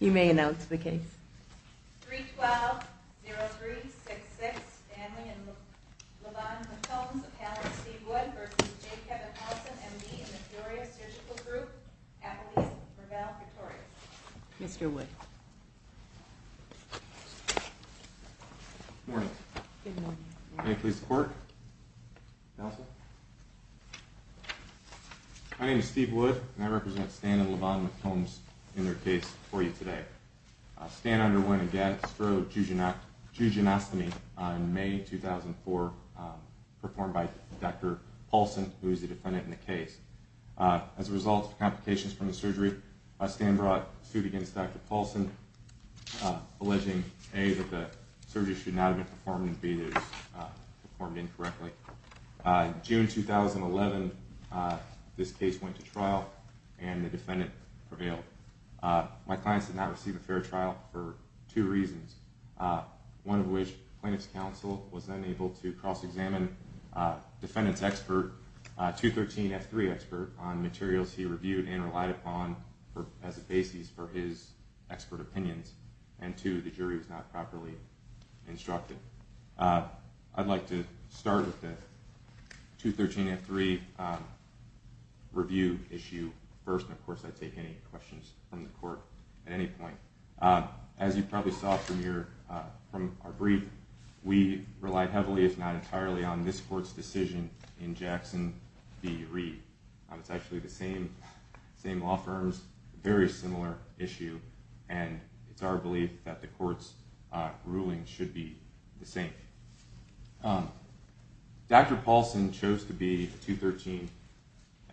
You may announce the case 312-0366 Stanley and LaVon McCombs appellant Steve Wood vs. J. Kevin Paulsen MD in the Furious Surgical Group Appellees Ravel, Victoria Mr. Wood Good morning Good morning Can I please have the clerk? Counsel? My name is Steve Wood and I represent Stan and LaVon McCombs in their case for you today. Stan underwent a gastro-jejunctomy on May 2004 performed by Dr. Paulsen who is the defendant in the case. As a result of complications from the surgery Stan brought suit against Dr. Paulsen alleging A that the surgery should not have been performed and B that it was performed incorrectly. In June 2011 this case went to trial and the defendant prevailed. My client did not receive a fair trial for two reasons. One of which plaintiff's counsel was unable to cross examine defendant's expert 213F3 expert on materials he reviewed and relied upon as a basis for his expert opinions. And two the jury was not properly instructed. I'd like to start with the 213F3 review issue first and of course I take any questions from the court at any point. As you probably saw from our brief we relied heavily if not entirely on this court's decision in Jackson v. Reed. It's actually the same law firm's very similar issue and it's our belief that the court's ruling should be the same. Dr. Paulsen chose to be the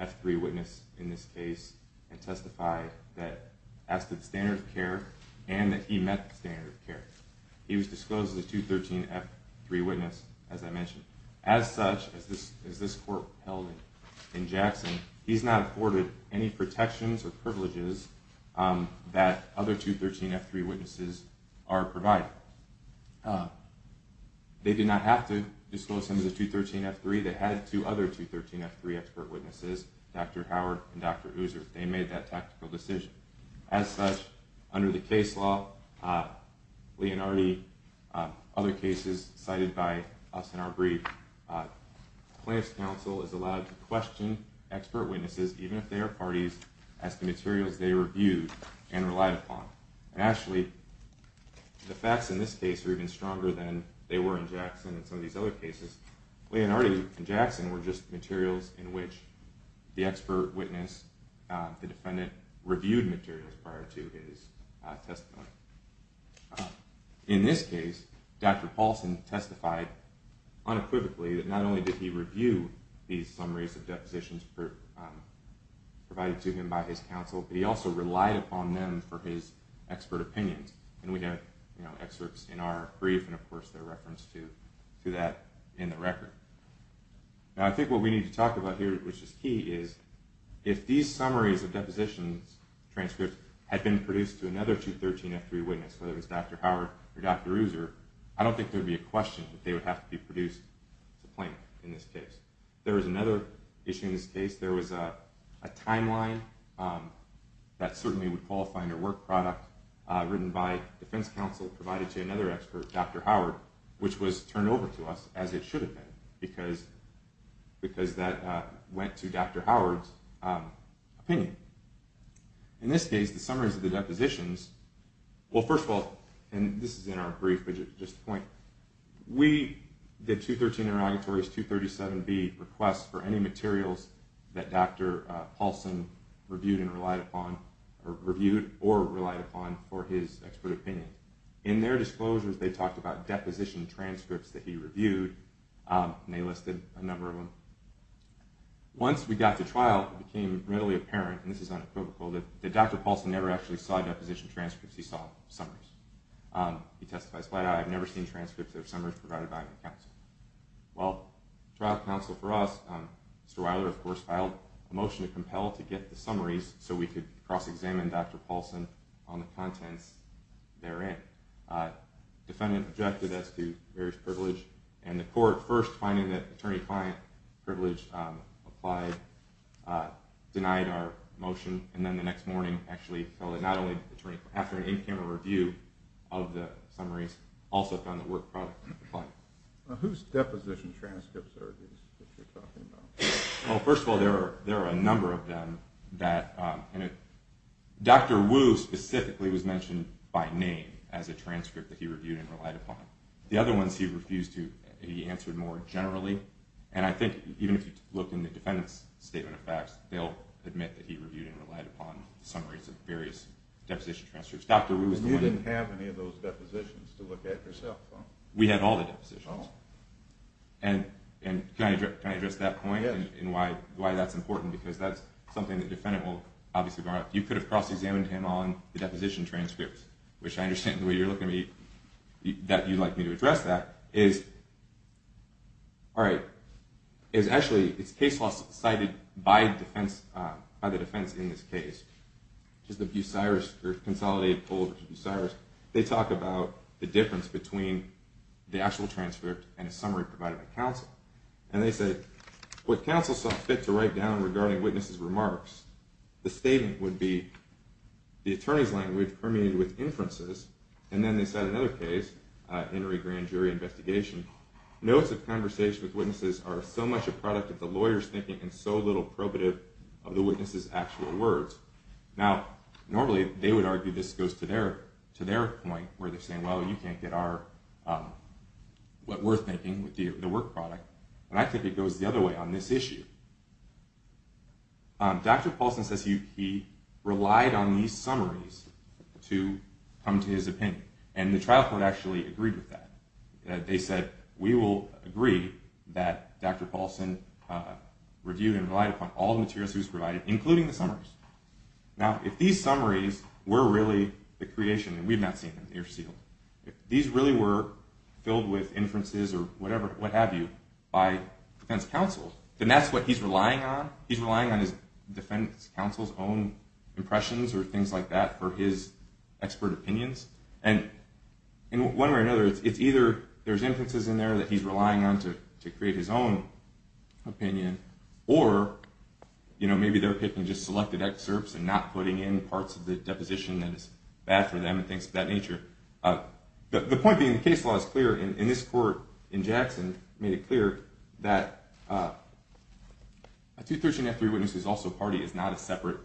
213F3 witness in this case and testified that as to the standard of care and that he met the standard of care. He was disclosed as a 213F3 witness as I mentioned. As such, as this court held in Jackson, he's not afforded any protections or privileges that other 213F3 witnesses are provided. They did not have to disclose him as a 213F3. They had two other 213F3 expert witnesses, Dr. Howard and Dr. User. They made that tactical decision. As such, under the case law, Leonardi, other cases cited by us in our brief, plaintiff's counsel is allowed to question expert witnesses even if they are parties as to materials they reviewed and relied upon. Actually, the facts in this case are even stronger than they were in Jackson and some of these other cases. Leonardi and Jackson were just materials in which the expert witness, the defendant, reviewed materials prior to his testimony. In this case, Dr. Paulsen testified unequivocally that not only did he review these summaries of depositions provided to him by his counsel, but he also relied upon them for his expert opinions. We have excerpts in our brief and, of course, there are references to that in the record. I think what we need to talk about here, which is key, is if these summaries of depositions, transcripts, had been produced to another 213F3 witness, whether it was Dr. Howard or Dr. User, I don't think there would be a question that they would have to be produced to plaintiff in this case. There was another issue in this case. There was a timeline that certainly would qualify under work product written by defense counsel provided to another expert, Dr. Howard, which was turned over to us, as it should have been, because that went to Dr. Howard's opinion. In this case, the summaries of the depositions, well, first of all, and this is in our brief, but just a point, we, the 213 interrogatories, 237B, request for any materials that Dr. Paulson reviewed or relied upon for his expert opinion. In their disclosures, they talked about deposition transcripts that he reviewed, and they listed a number of them. Once we got to trial, it became really apparent, and this is unequivocal, that Dr. Paulson never actually saw deposition transcripts, he saw summaries. He testified, I have never seen transcripts of summaries provided by my counsel. Well, trial counsel for us, Mr. Weiler, of course, filed a motion to compel to get the summaries so we could cross-examine Dr. Paulson on the contents therein. Defendant objected as to various privilege, and the court, first finding that attorney-client privilege applied, denied our motion, and then the next morning, actually, not only did the attorney, after an in-camera review of the summaries, also found that work product applied. Whose deposition transcripts are these that you're talking about? Well, first of all, there are a number of them that, and Dr. Wu specifically was mentioned by name as a transcript that he reviewed and relied upon. The other ones he refused to, he answered more generally, and I think even if you look in the defendant's statement of facts, they'll admit that he reviewed and relied upon summaries of various deposition transcripts. You didn't have any of those depositions to look at yourself, though. We had all the depositions. Oh. And can I address that point? Yes. And why that's important, because that's something the defendant will obviously go on. You could have cross-examined him on the deposition transcripts, which I understand the way you're looking at me, that you'd like me to address that, is actually, it's case law cited by the defense in this case, which is the Bucyrus or Consolidated Pull of the Bucyrus. They talk about the difference between the actual transcript and a summary provided by counsel. And they said, what counsel saw fit to write down regarding witnesses' remarks, the statement would be, the attorney's language permeated with inferences, and then they said in another case, Henry Grand Jury Investigation, notes of conversation with witnesses are so much a product of the lawyer's thinking and so little probative of the witness's actual words. Now, normally they would argue this goes to their point, where they're saying, well, you can't get what we're thinking with the work product. But I think it goes the other way on this issue. Dr. Paulson says he relied on these summaries to come to his opinion. And the trial court actually agreed with that. They said, we will agree that Dr. Paulson reviewed and relied upon all the materials he was provided, including the summaries. Now, if these summaries were really the creation, and we've not seen them, they're sealed. If these really were filled with inferences or whatever, what have you, by defense counsel, then that's what he's relying on. He's relying on his defense counsel's own impressions or things like that for his expert opinions. And in one way or another, it's either there's inferences in there that he's relying on to create his own opinion, or maybe they're picking just selected excerpts and not putting in parts of the deposition that is bad for them and things of that nature. The point being, the case law is clear. And this court in Jackson made it clear that a 213-F3 witness who's also a party is not a separate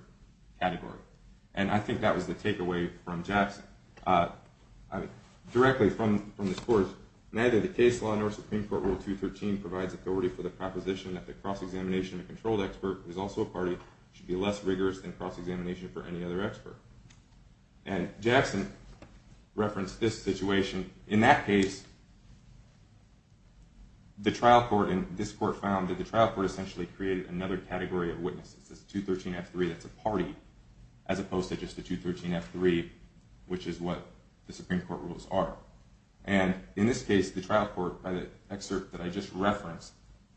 category. And I think that was the takeaway from Jackson. Directly from this court, neither the case law nor Supreme Court Rule 213 provides authority for the proposition that the cross-examination of a controlled expert who's also a party should be less rigorous than cross-examination for any other expert. And Jackson referenced this situation. In that case, the trial court and this court found that the trial court essentially created another category of witnesses, this 213-F3 that's a party, as opposed to just a 213-F3, which is what the Supreme Court rules are. And in this case, the trial court, by the excerpt that I just referenced,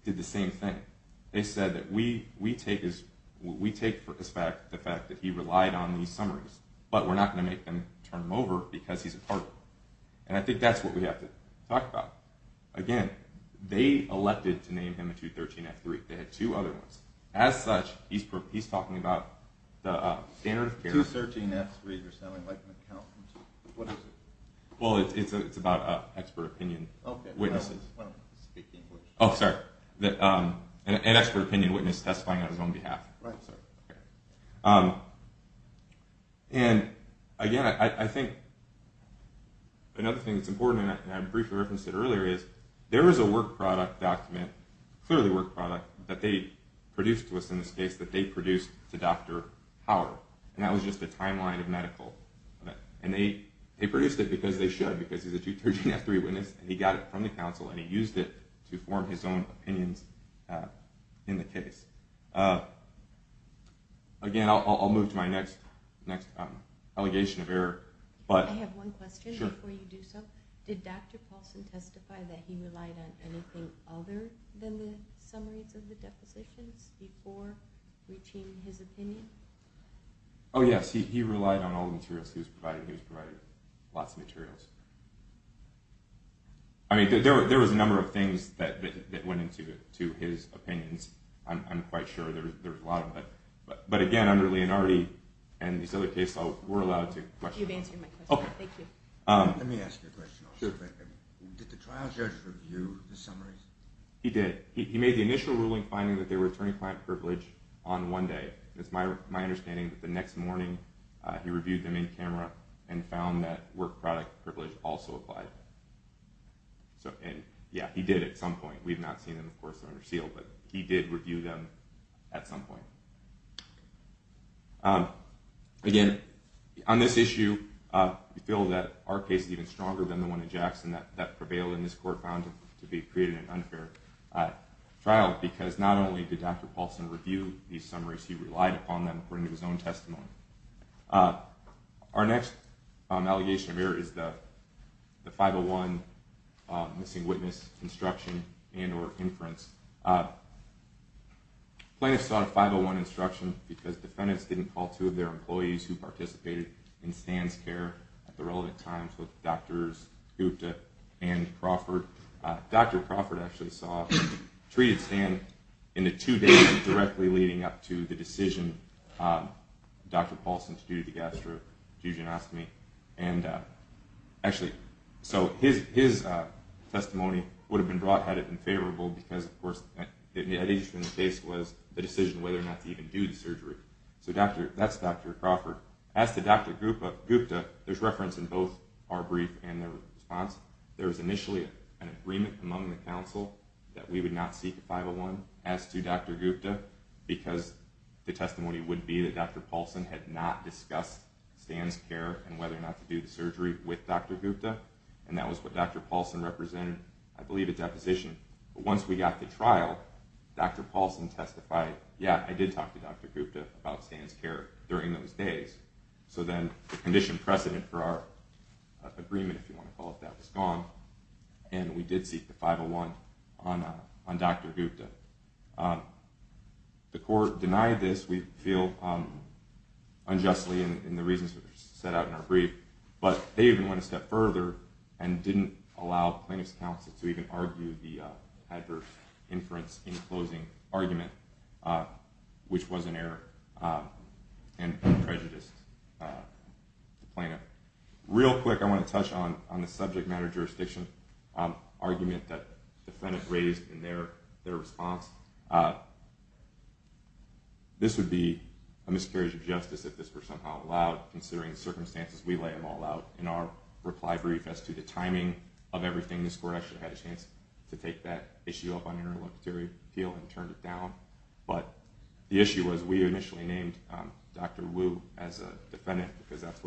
did the same thing. They said that we take for a fact the fact that he relied on these summaries, but we're not going to make them turn them over because he's a party. And I think that's what we have to talk about. Again, they elected to name him a 213-F3. They had two other ones. As such, he's talking about the standard of care. 213-F3, you're sounding like an accountant. What is it? Well, it's about expert opinion witnesses. Okay. I don't speak English. Oh, sorry. An expert opinion witness testifying on his own behalf. Right. And, again, I think another thing that's important, and I briefly referenced it earlier, is there is a work product document, clearly work product, that they produced to us in this case, that they produced to Dr. Howard. And that was just a timeline of medical. And they produced it because they should, because he's a 213-F3 witness, and he got it from the council, and he used it to form his own opinions in the case. Again, I'll move to my next allegation of error. I have one question before you do so. Sure. Did Dr. Paulson testify that he relied on anything other than the summaries of the depositions before reaching his opinion? Oh, yes. He relied on all the materials he was provided. He was provided lots of materials. I mean, there was a number of things that went into his opinions. I'm quite sure there was a lot of it. But, again, under Leonardi and these other case laws, we're allowed to question. You've answered my question. Thank you. Let me ask you a question also. Did the trial judge review the summaries? He did. He made the initial ruling finding that they were attorney-client privilege on one day. It's my understanding that the next morning he reviewed them in camera and found that work product privilege also applied. Yeah, he did at some point. We've not seen them, of course, under seal. But he did review them at some point. Again, on this issue, we feel that our case is even stronger than the one in Jackson that prevailed in this court found to be creating an unfair trial because not only did Dr. Paulson review these summaries, he relied upon them according to his own testimony. Our next allegation of error is the 501 missing witness instruction and or inference. Plaintiffs sought a 501 instruction because defendants didn't call two of their employees who participated in Stan's care at the relevant times with Drs. Gupta and Crawford. Dr. Crawford actually treated Stan in the two days directly leading up to the decision. Dr. Paulson's due to gastrofusionostomy. So his testimony would have been brought had it been favorable because, of course, the case was the decision whether or not to even do the surgery. So that's Dr. Crawford. As to Dr. Gupta, there's reference in both our brief and their response. There was initially an agreement among the counsel that we would not seek a 501. As to Dr. Gupta, because the testimony would be that Dr. Paulson had not discussed Stan's care and whether or not to do the surgery with Dr. Gupta, and that was what Dr. Paulson represented, I believe, a deposition. But once we got to trial, Dr. Paulson testified, yeah, I did talk to Dr. Gupta about Stan's care during those days. So then the condition precedent for our agreement, if you want to call it that, was gone, and we did seek the 501 on Dr. Gupta. The court denied this, we feel unjustly in the reasons that are set out in our brief, but they even went a step further and didn't allow plaintiff's counsel to even argue the adverse inference in the closing argument, which was an error and prejudiced the plaintiff. Real quick, I want to touch on the subject matter jurisdiction argument that the defendant raised in their response. This would be a miscarriage of justice if this were somehow allowed, considering the circumstances we lay them all out in our reply brief as to the timing of everything this court actually had a chance to take that issue up on interlocutory appeal and turned it down, but the issue was we initially named Dr. Wu as a defendant because that's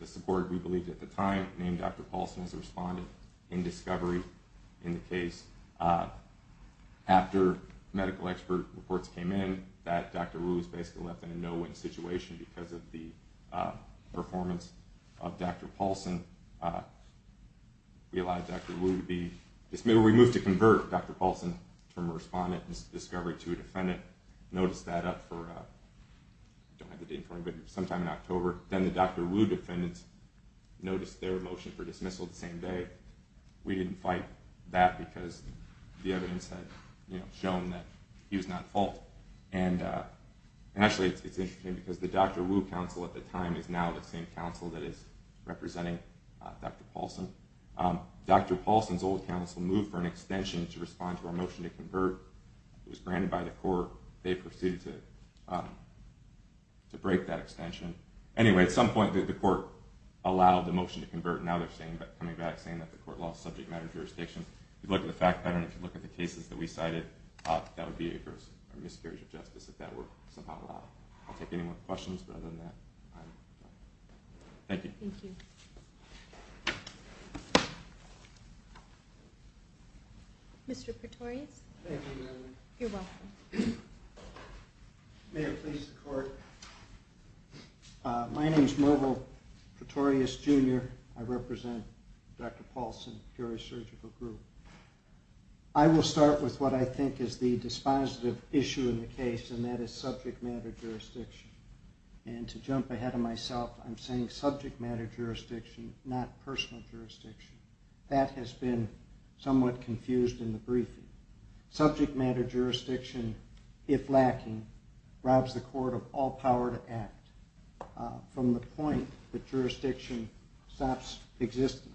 the support we believed at the time, named Dr. Paulson as a respondent in discovery in the case. After medical expert reports came in that Dr. Wu was basically left in a no-win situation because of the performance of Dr. Paulson, we allowed Dr. Wu to be dismissed. We moved to convert Dr. Paulson from a respondent in discovery to a defendant, and the defendant noticed that up for sometime in October. Then the Dr. Wu defendant noticed their motion for dismissal the same day. We didn't fight that because the evidence had shown that he was not at fault. Actually, it's interesting because the Dr. Wu counsel at the time is now the same counsel that is representing Dr. Paulson. Dr. Paulson's old counsel moved for an extension to respond to our motion to convert. It was granted by the court. They proceeded to break that extension. Anyway, at some point the court allowed the motion to convert. Now they're coming back saying that the court lost subject matter jurisdiction. If you look at the fact pattern, if you look at the cases that we cited, that would be a miscarriage of justice if that were somehow allowed. I'll take any more questions, but other than that, I'm done. Thank you. Thank you. Thank you. Mr. Pretorius? Thank you, Madeline. You're welcome. May it please the court. My name is Merville Pretorius, Jr. I represent Dr. Paulson, Peoria Surgical Group. I will start with what I think is the dispositive issue in the case, and that is subject matter jurisdiction. To jump ahead of myself, I'm saying subject matter jurisdiction, not personal jurisdiction. That has been somewhat confused in the briefing. Subject matter jurisdiction, if lacking, robs the court of all power to act, from the point that jurisdiction stops existing.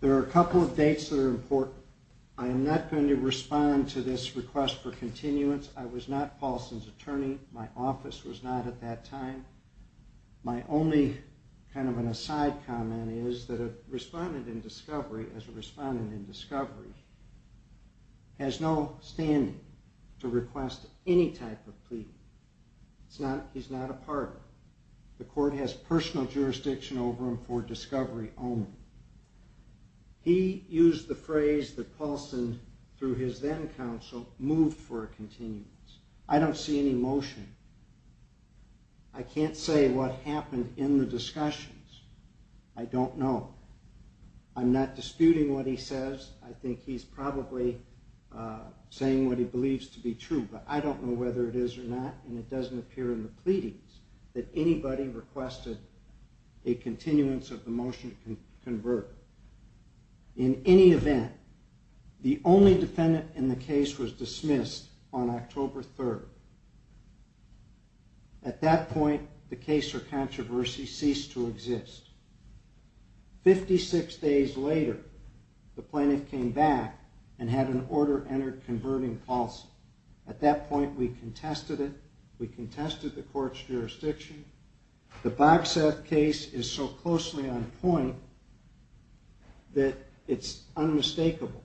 There are a couple of dates that are important. I am not going to respond to this request for continuance. I was not Paulson's attorney. My office was not at that time. My only kind of an aside comment is that a respondent in discovery, as a respondent in discovery, has no standing to request any type of plea. He's not a partner. The court has personal jurisdiction over him for discovery only. He used the phrase that Paulson, through his then counsel, moved for a continuance. I don't see any motion. I can't say what happened in the discussions. I don't know. I'm not disputing what he says. I think he's probably saying what he believes to be true. But I don't know whether it is or not, and it doesn't appear in the pleadings, that anybody requested a continuance of the motion to convert. In any event, the only defendant in the case was dismissed on October 3rd. At that point, the case for controversy ceased to exist. Fifty-six days later, the plaintiff came back and had an order-entered converting policy. At that point, we contested it. The Bogsath case is so closely on point that it's unmistakable.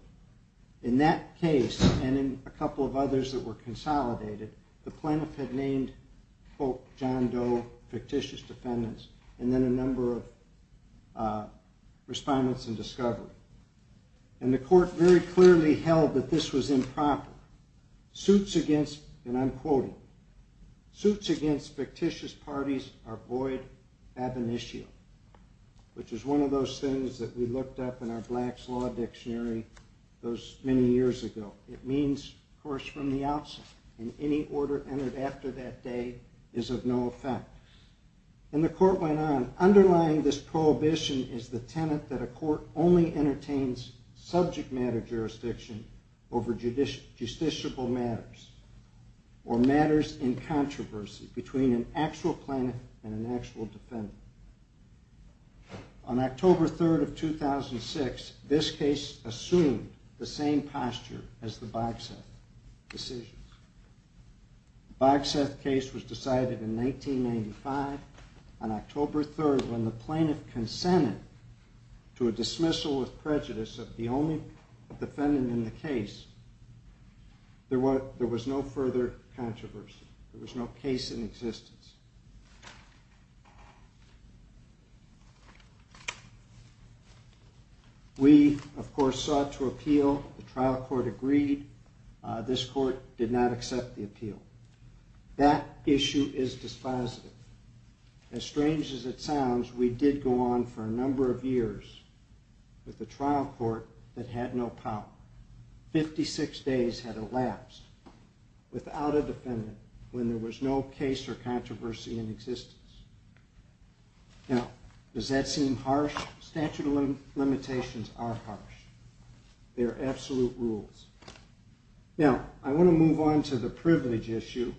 In that case, and in a couple of others that were consolidated, the plaintiff had named, quote, John Doe, fictitious defendants, and then a number of respondents in discovery. And the court very clearly held that this was improper. And I'm quoting. Suits against fictitious parties are void ab initio, which is one of those things that we looked up in our Blacks Law Dictionary many years ago. It means, of course, from the outset. And any order entered after that day is of no effect. And the court went on. Underlying this prohibition is the tenet that a court only entertains subject-matter jurisdiction over justiciable matters or matters in controversy between an actual plaintiff and an actual defendant. On October 3rd of 2006, this case assumed the same posture as the Bogsath decision. The Bogsath case was decided in 1995. On October 3rd, when the plaintiff consented to a dismissal with prejudice of the only defendant in the case, there was no further controversy. There was no case in existence. We, of course, sought to appeal. The trial court agreed. This court did not accept the appeal. That issue is dispositive. As strange as it sounds, we did go on for a number of years with a trial court that had no power. Fifty-six days had elapsed without a defendant when there was no case or controversy in existence. Now, does that seem harsh? Statute of limitations are harsh. They are absolute rules. Now, I want to move on to the privilege issue.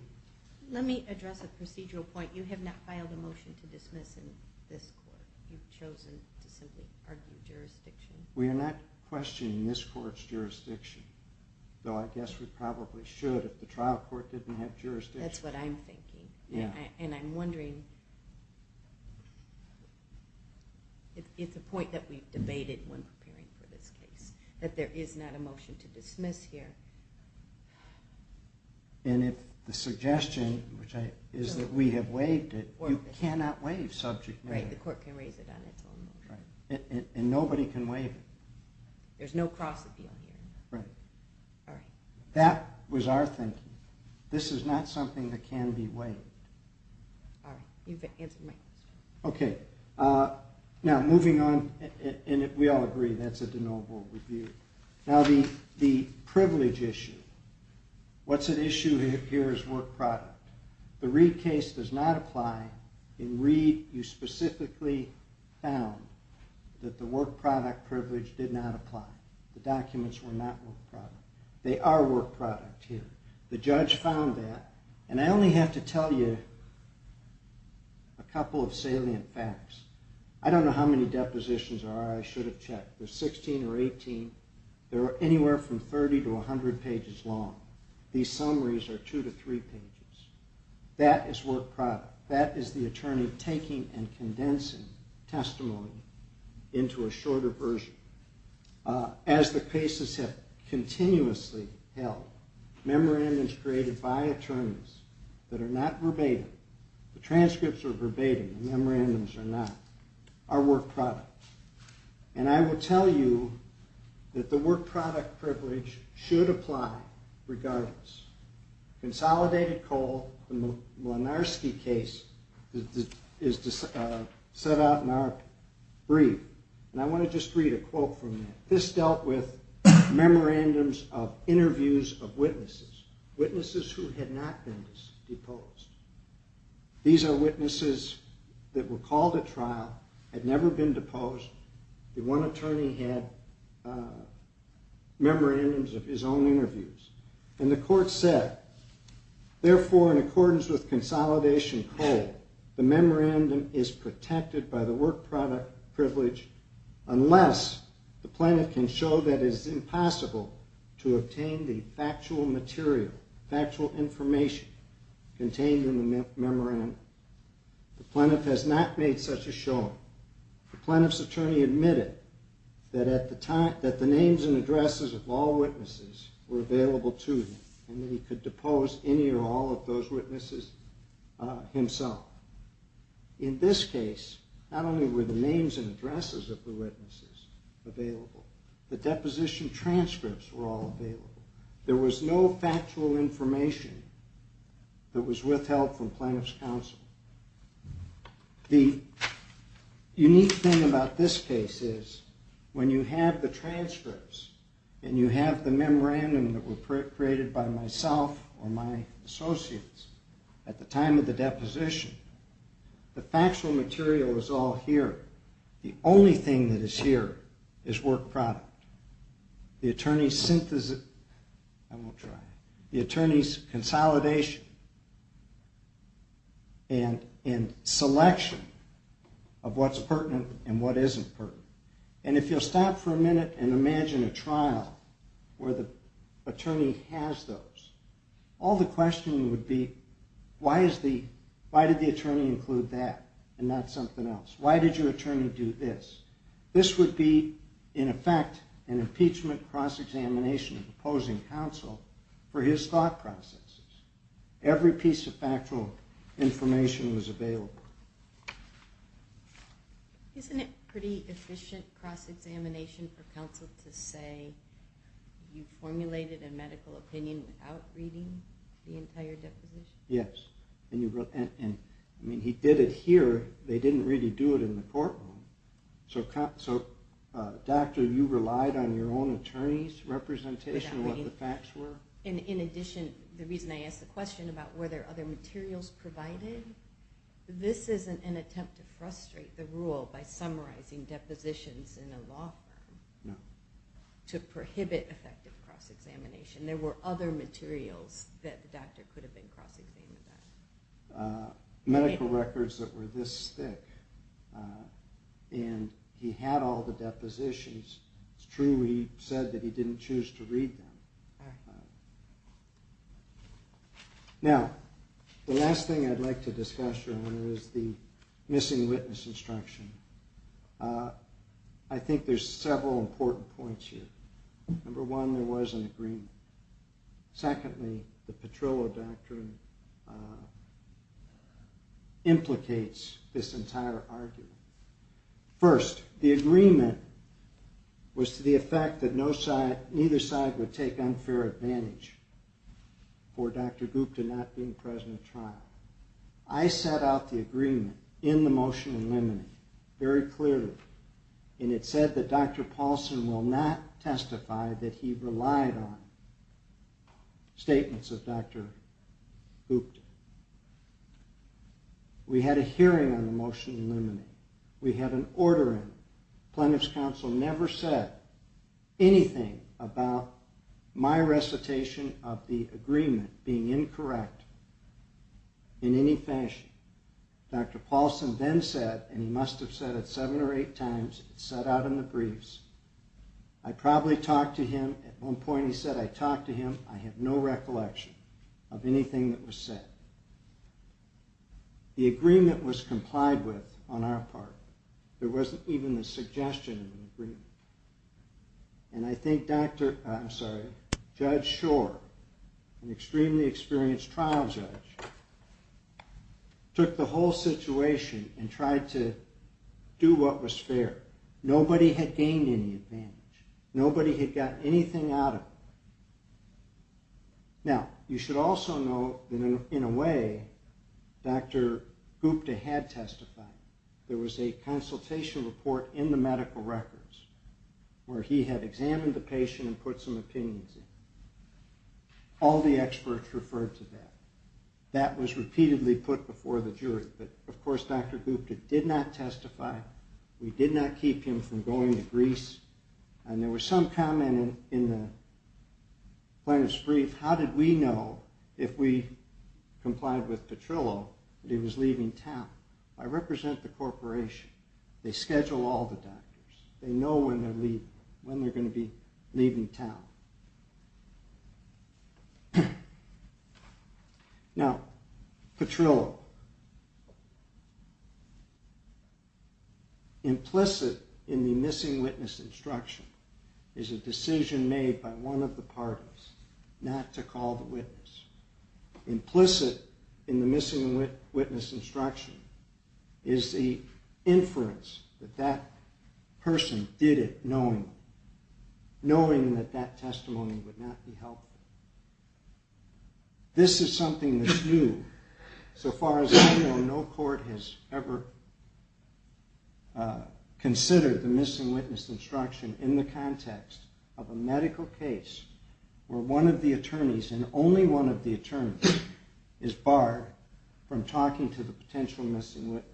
Let me address a procedural point. You have not filed a motion to dismiss in this court. You've chosen to simply argue jurisdiction. We are not questioning this court's jurisdiction, though I guess we probably should if the trial court didn't have jurisdiction. That's what I'm thinking, and I'm wondering if it's a point that we've debated when preparing for this case, that there is not a motion to dismiss here. And if the suggestion is that we have waived it, you cannot waive subject matter. Right, the court can raise it on its own. And nobody can waive it. There's no cross-appeal here. Right. All right. That was our thinking. This is not something that can be waived. All right. You've answered my question. Okay. Now, moving on, and we all agree that's a de novo review. Now, the privilege issue, what's at issue here is work product. The Reid case does not apply. In Reid, you specifically found that the work product privilege did not apply. The documents were not work product. They are work product here. The judge found that, and I only have to tell you a couple of salient facts. I don't know how many depositions there are I should have checked. There's 16 or 18. They're anywhere from 30 to 100 pages long. These summaries are two to three pages. That is work product. That is the attorney taking and condensing testimony into a shorter version. As the cases have continuously held, memorandums created by attorneys that are not verbatim, the transcripts are verbatim, the memorandums are not, are work product. And I will tell you that the work product privilege should apply regardless. Consolidated coal, the Malinarski case, is set out in our brief. And I want to just read a quote from that. This dealt with memorandums of interviews of witnesses, witnesses who had not been deposed. These are witnesses that were called at trial, had never been deposed. The one attorney had memorandums of his own interviews. And the court said, Therefore, in accordance with consolidation coal, the memorandum is protected by the work product privilege unless the plaintiff can show that it is impossible to obtain the factual material, factual information contained in the memorandum. The plaintiff has not made such a showing. The plaintiff's attorney admitted that at the time, that the names and addresses of all witnesses were available to him and that he could depose any or all of those witnesses himself. In this case, not only were the names and addresses of the witnesses available, the deposition transcripts were all available. There was no factual information that was withheld from plaintiff's counsel. The unique thing about this case is, when you have the transcripts and you have the memorandum that were created by myself or my associates at the time of the deposition, the factual material is all here. The only thing that is here is work product. The attorney's synthesis... I won't try. The attorney's consolidation and selection of what's pertinent and what isn't pertinent. And if you'll stop for a minute and imagine a trial where the attorney has those, all the questioning would be, why did the attorney include that and not something else? Why did your attorney do this? This would be, in effect, an impeachment cross-examination of opposing counsel for his thought processes. Every piece of factual information was available. Isn't it pretty efficient cross-examination for counsel to say, you formulated a medical opinion without reading the entire deposition? Yes. I mean, he did it here. They didn't really do it in the courtroom. So, doctor, you relied on your own attorney's representation of what the facts were? In addition, the reason I asked the question about were there other materials provided, this isn't an attempt to frustrate the rule by summarizing depositions in a law firm to prohibit effective cross-examination. There were other materials that the doctor could have been cross-examining. Medical records that were this thick. And he had all the depositions. It's true he said that he didn't choose to read them. Now, the last thing I'd like to discuss here is the missing witness instruction. I think there's several important points here. Number one, there was an agreement. Secondly, the Petrillo Doctrine implicates this entire argument. First, the agreement was to the effect that neither side would take unfair advantage for Dr. Gupta not being present at trial. I set out the agreement in the motion in limine, very clearly. And it said that Dr. Paulson will not testify that he relied on statements of Dr. Gupta. We had a hearing on the motion in limine. We had an order in. Plaintiff's counsel never said anything about my recitation of the agreement being incorrect in any fashion. Dr. Paulson then said, and he must have said it seven or eight times, it's set out in the briefs. I probably talked to him. At one point he said, I talked to him. I have no recollection of anything that was said. The agreement was complied with on our part. There wasn't even the suggestion of an agreement. And I think Judge Shore, an extremely experienced trial judge, took the whole situation and tried to do what was fair. Nobody had gained any advantage. Nobody had gotten anything out of it. Now, you should also know that in a way, Dr. Gupta had testified. There was a consultation report in the medical records where he had examined the patient and put some opinions in. All the experts referred to that. That was repeatedly put before the jury. But, of course, Dr. Gupta did not testify. We did not keep him from going to Greece. And there was some comment in the plaintiff's brief, how did we know if we complied with Petrillo that he was leaving town? I represent the corporation. They schedule all the doctors. They know when they're going to be leaving town. Now, Petrillo, implicit in the missing witness instruction is a decision made by one of the parties not to call the witness. Implicit in the missing witness instruction is the inference that that person did it knowing that that testimony would not be helpful. This is something that's new. So far as I know, no court has ever considered the missing witness instruction in the context of a medical case where one of the attorneys and only one of the attorneys is barred from talking to the potential missing witness.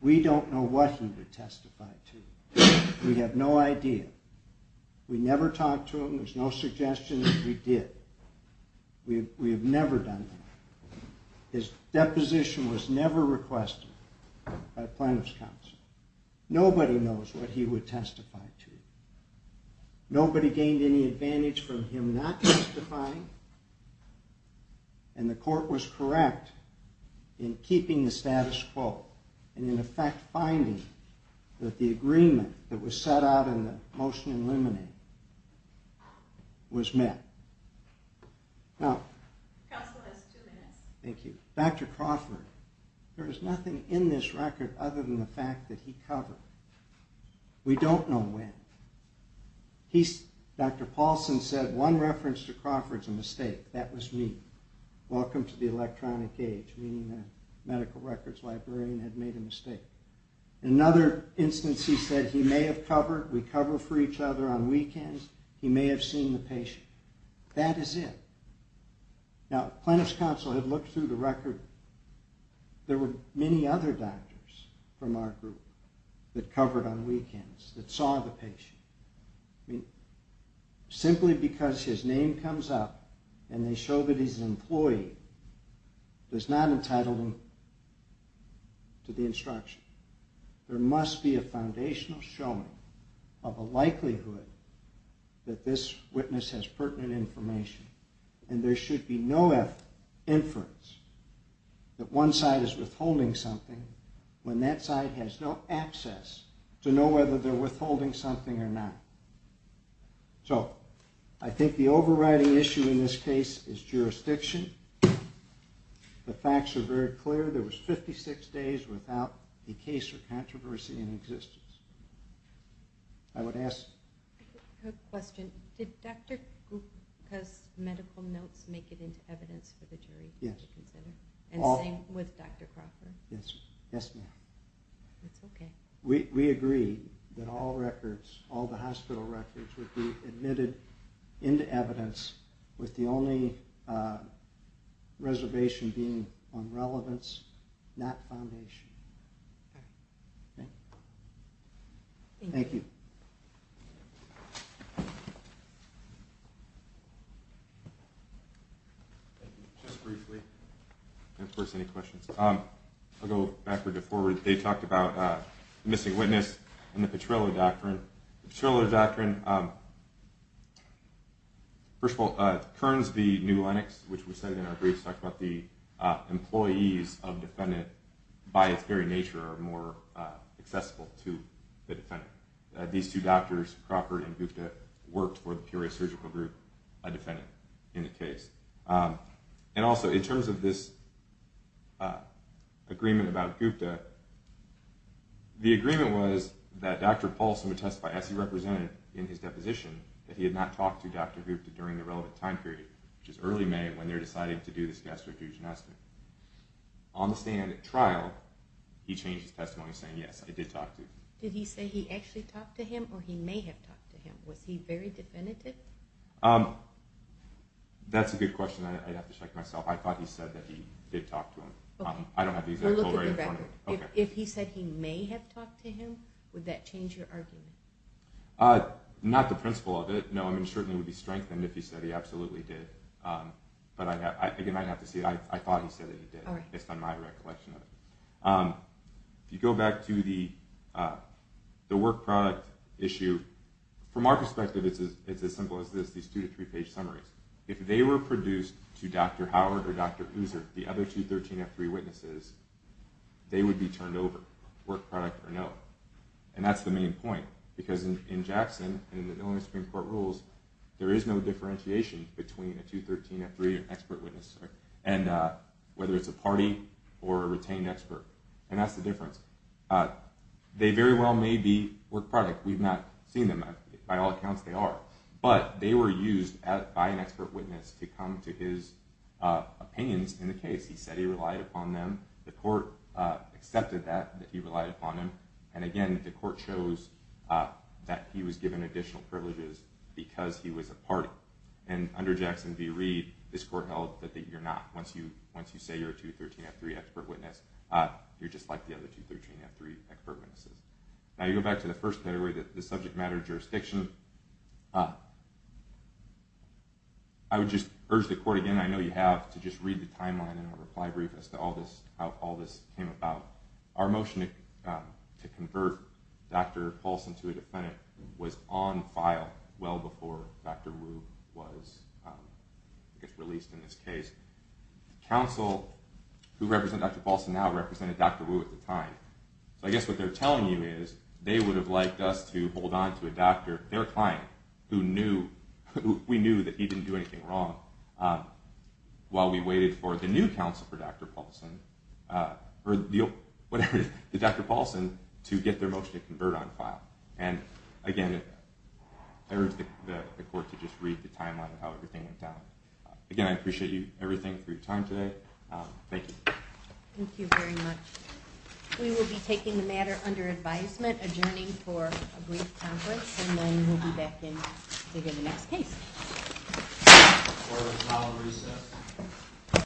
We don't know what he would testify to. We have no idea. We never talked to him. There's no suggestion that we did. We have never done that. His deposition was never requested by plaintiff's counsel. Nobody knows what he would testify to. Nobody gained any advantage from him not testifying, and the court was correct in keeping the status quo and, in effect, finding that the agreement that was set out in the motion in limine was met. Counsel has two minutes. Thank you. Dr. Crawford, there is nothing in this record other than the fact that he covered. We don't know when. Dr. Paulson said one reference to Crawford is a mistake. That was me. Welcome to the electronic age, meaning the medical records librarian had made a mistake. In another instance, he said he may have covered. We cover for each other on weekends. He may have seen the patient. That is it. Now, plaintiff's counsel had looked through the record. There were many other doctors from our group that covered on weekends, that saw the patient. Simply because his name comes up and they show that he's an employee does not entitle him to the instruction. There must be a foundational showing of a likelihood that this witness has pertinent information, and there should be no inference that one side is withholding something when that side has no access to know whether they're withholding something or not. So I think the overriding issue in this case is jurisdiction. The facts are very clear. There was 56 days without a case or controversy in existence. I would ask. Yes? I have a quick question. Did Dr. Gupta's medical notes make it into evidence for the jury to consider? Yes. And same with Dr. Crawford? Yes, ma'am. That's okay. We agree that all records, all the hospital records, would be admitted into evidence Okay. Okay? Thank you. Thank you. Just briefly, and of course any questions. I'll go backward to forward. They talked about the missing witness and the Petrillo Doctrine. The Petrillo Doctrine, first of all, Kearns v. New Lennox, which we cited in our briefs, talked about the employees of defendant by its very nature are more accessible to the defendant. These two doctors, Crawford and Gupta, worked for the Peoria Surgical Group, a defendant, in the case. And also, in terms of this agreement about Gupta, the agreement was that Dr. Paulson would testify, as he represented in his deposition, that he had not talked to Dr. Gupta during the relevant time period, which is early May, when they were deciding to do this gastrointestinal. On the stand at trial, he changed his testimony saying, yes, he did talk to him. Did he say he actually talked to him, or he may have talked to him? Was he very definitive? That's a good question. I'd have to check myself. I thought he said that he did talk to him. Okay. I don't have the exact full rate in front of me. If he said he may have talked to him, would that change your argument? Not the principle of it. No, I mean, it certainly would be strengthened if he said he absolutely did. But I think you might have to see it. I thought he said that he did, based on my recollection of it. If you go back to the work product issue, from our perspective, it's as simple as this, these two- to three-page summaries. If they were produced to Dr. Howard or Dr. Uzer, the other 213F3 witnesses, they would be turned over, work product or no. And that's the main point, because in Jackson, and in the Illinois Supreme Court rules, there is no differentiation between a 213F3 or expert witness. Whether it's a party or a retained expert. And that's the difference. They very well may be work product. We've not seen them. By all accounts, they are. But they were used by an expert witness to come to his opinions in the case. He said he relied upon them. The court accepted that, that he relied upon them. And again, the court shows that he was given additional privileges because he was a party. And under Jackson v. Reed, this court held that you're not. Once you say you're a 213F3 expert witness, you're just like the other 213F3 expert witnesses. Now you go back to the first category, the subject matter jurisdiction. I would just urge the court again, I know you have, to just read the timeline in the reply brief as to how all this came about. Our motion to convert Dr. Paulson to a defendant was on file well before Dr. Wu was released in this case. The counsel who represented Dr. Paulson now represented Dr. Wu at the time. So I guess what they're telling you is they would have liked us to hold on to a doctor, their client, who we knew that he didn't do anything wrong, while we waited for the new counsel for Dr. Paulson, or whatever, the Dr. Paulson, to get their motion to convert on file. And again, I urge the court to just read the timeline of how everything went down. Again, I appreciate everything for your time today. Thank you. Thank you very much. We will be taking the matter under advisement, adjourning for a brief conference, and then we'll be back in to get the next case.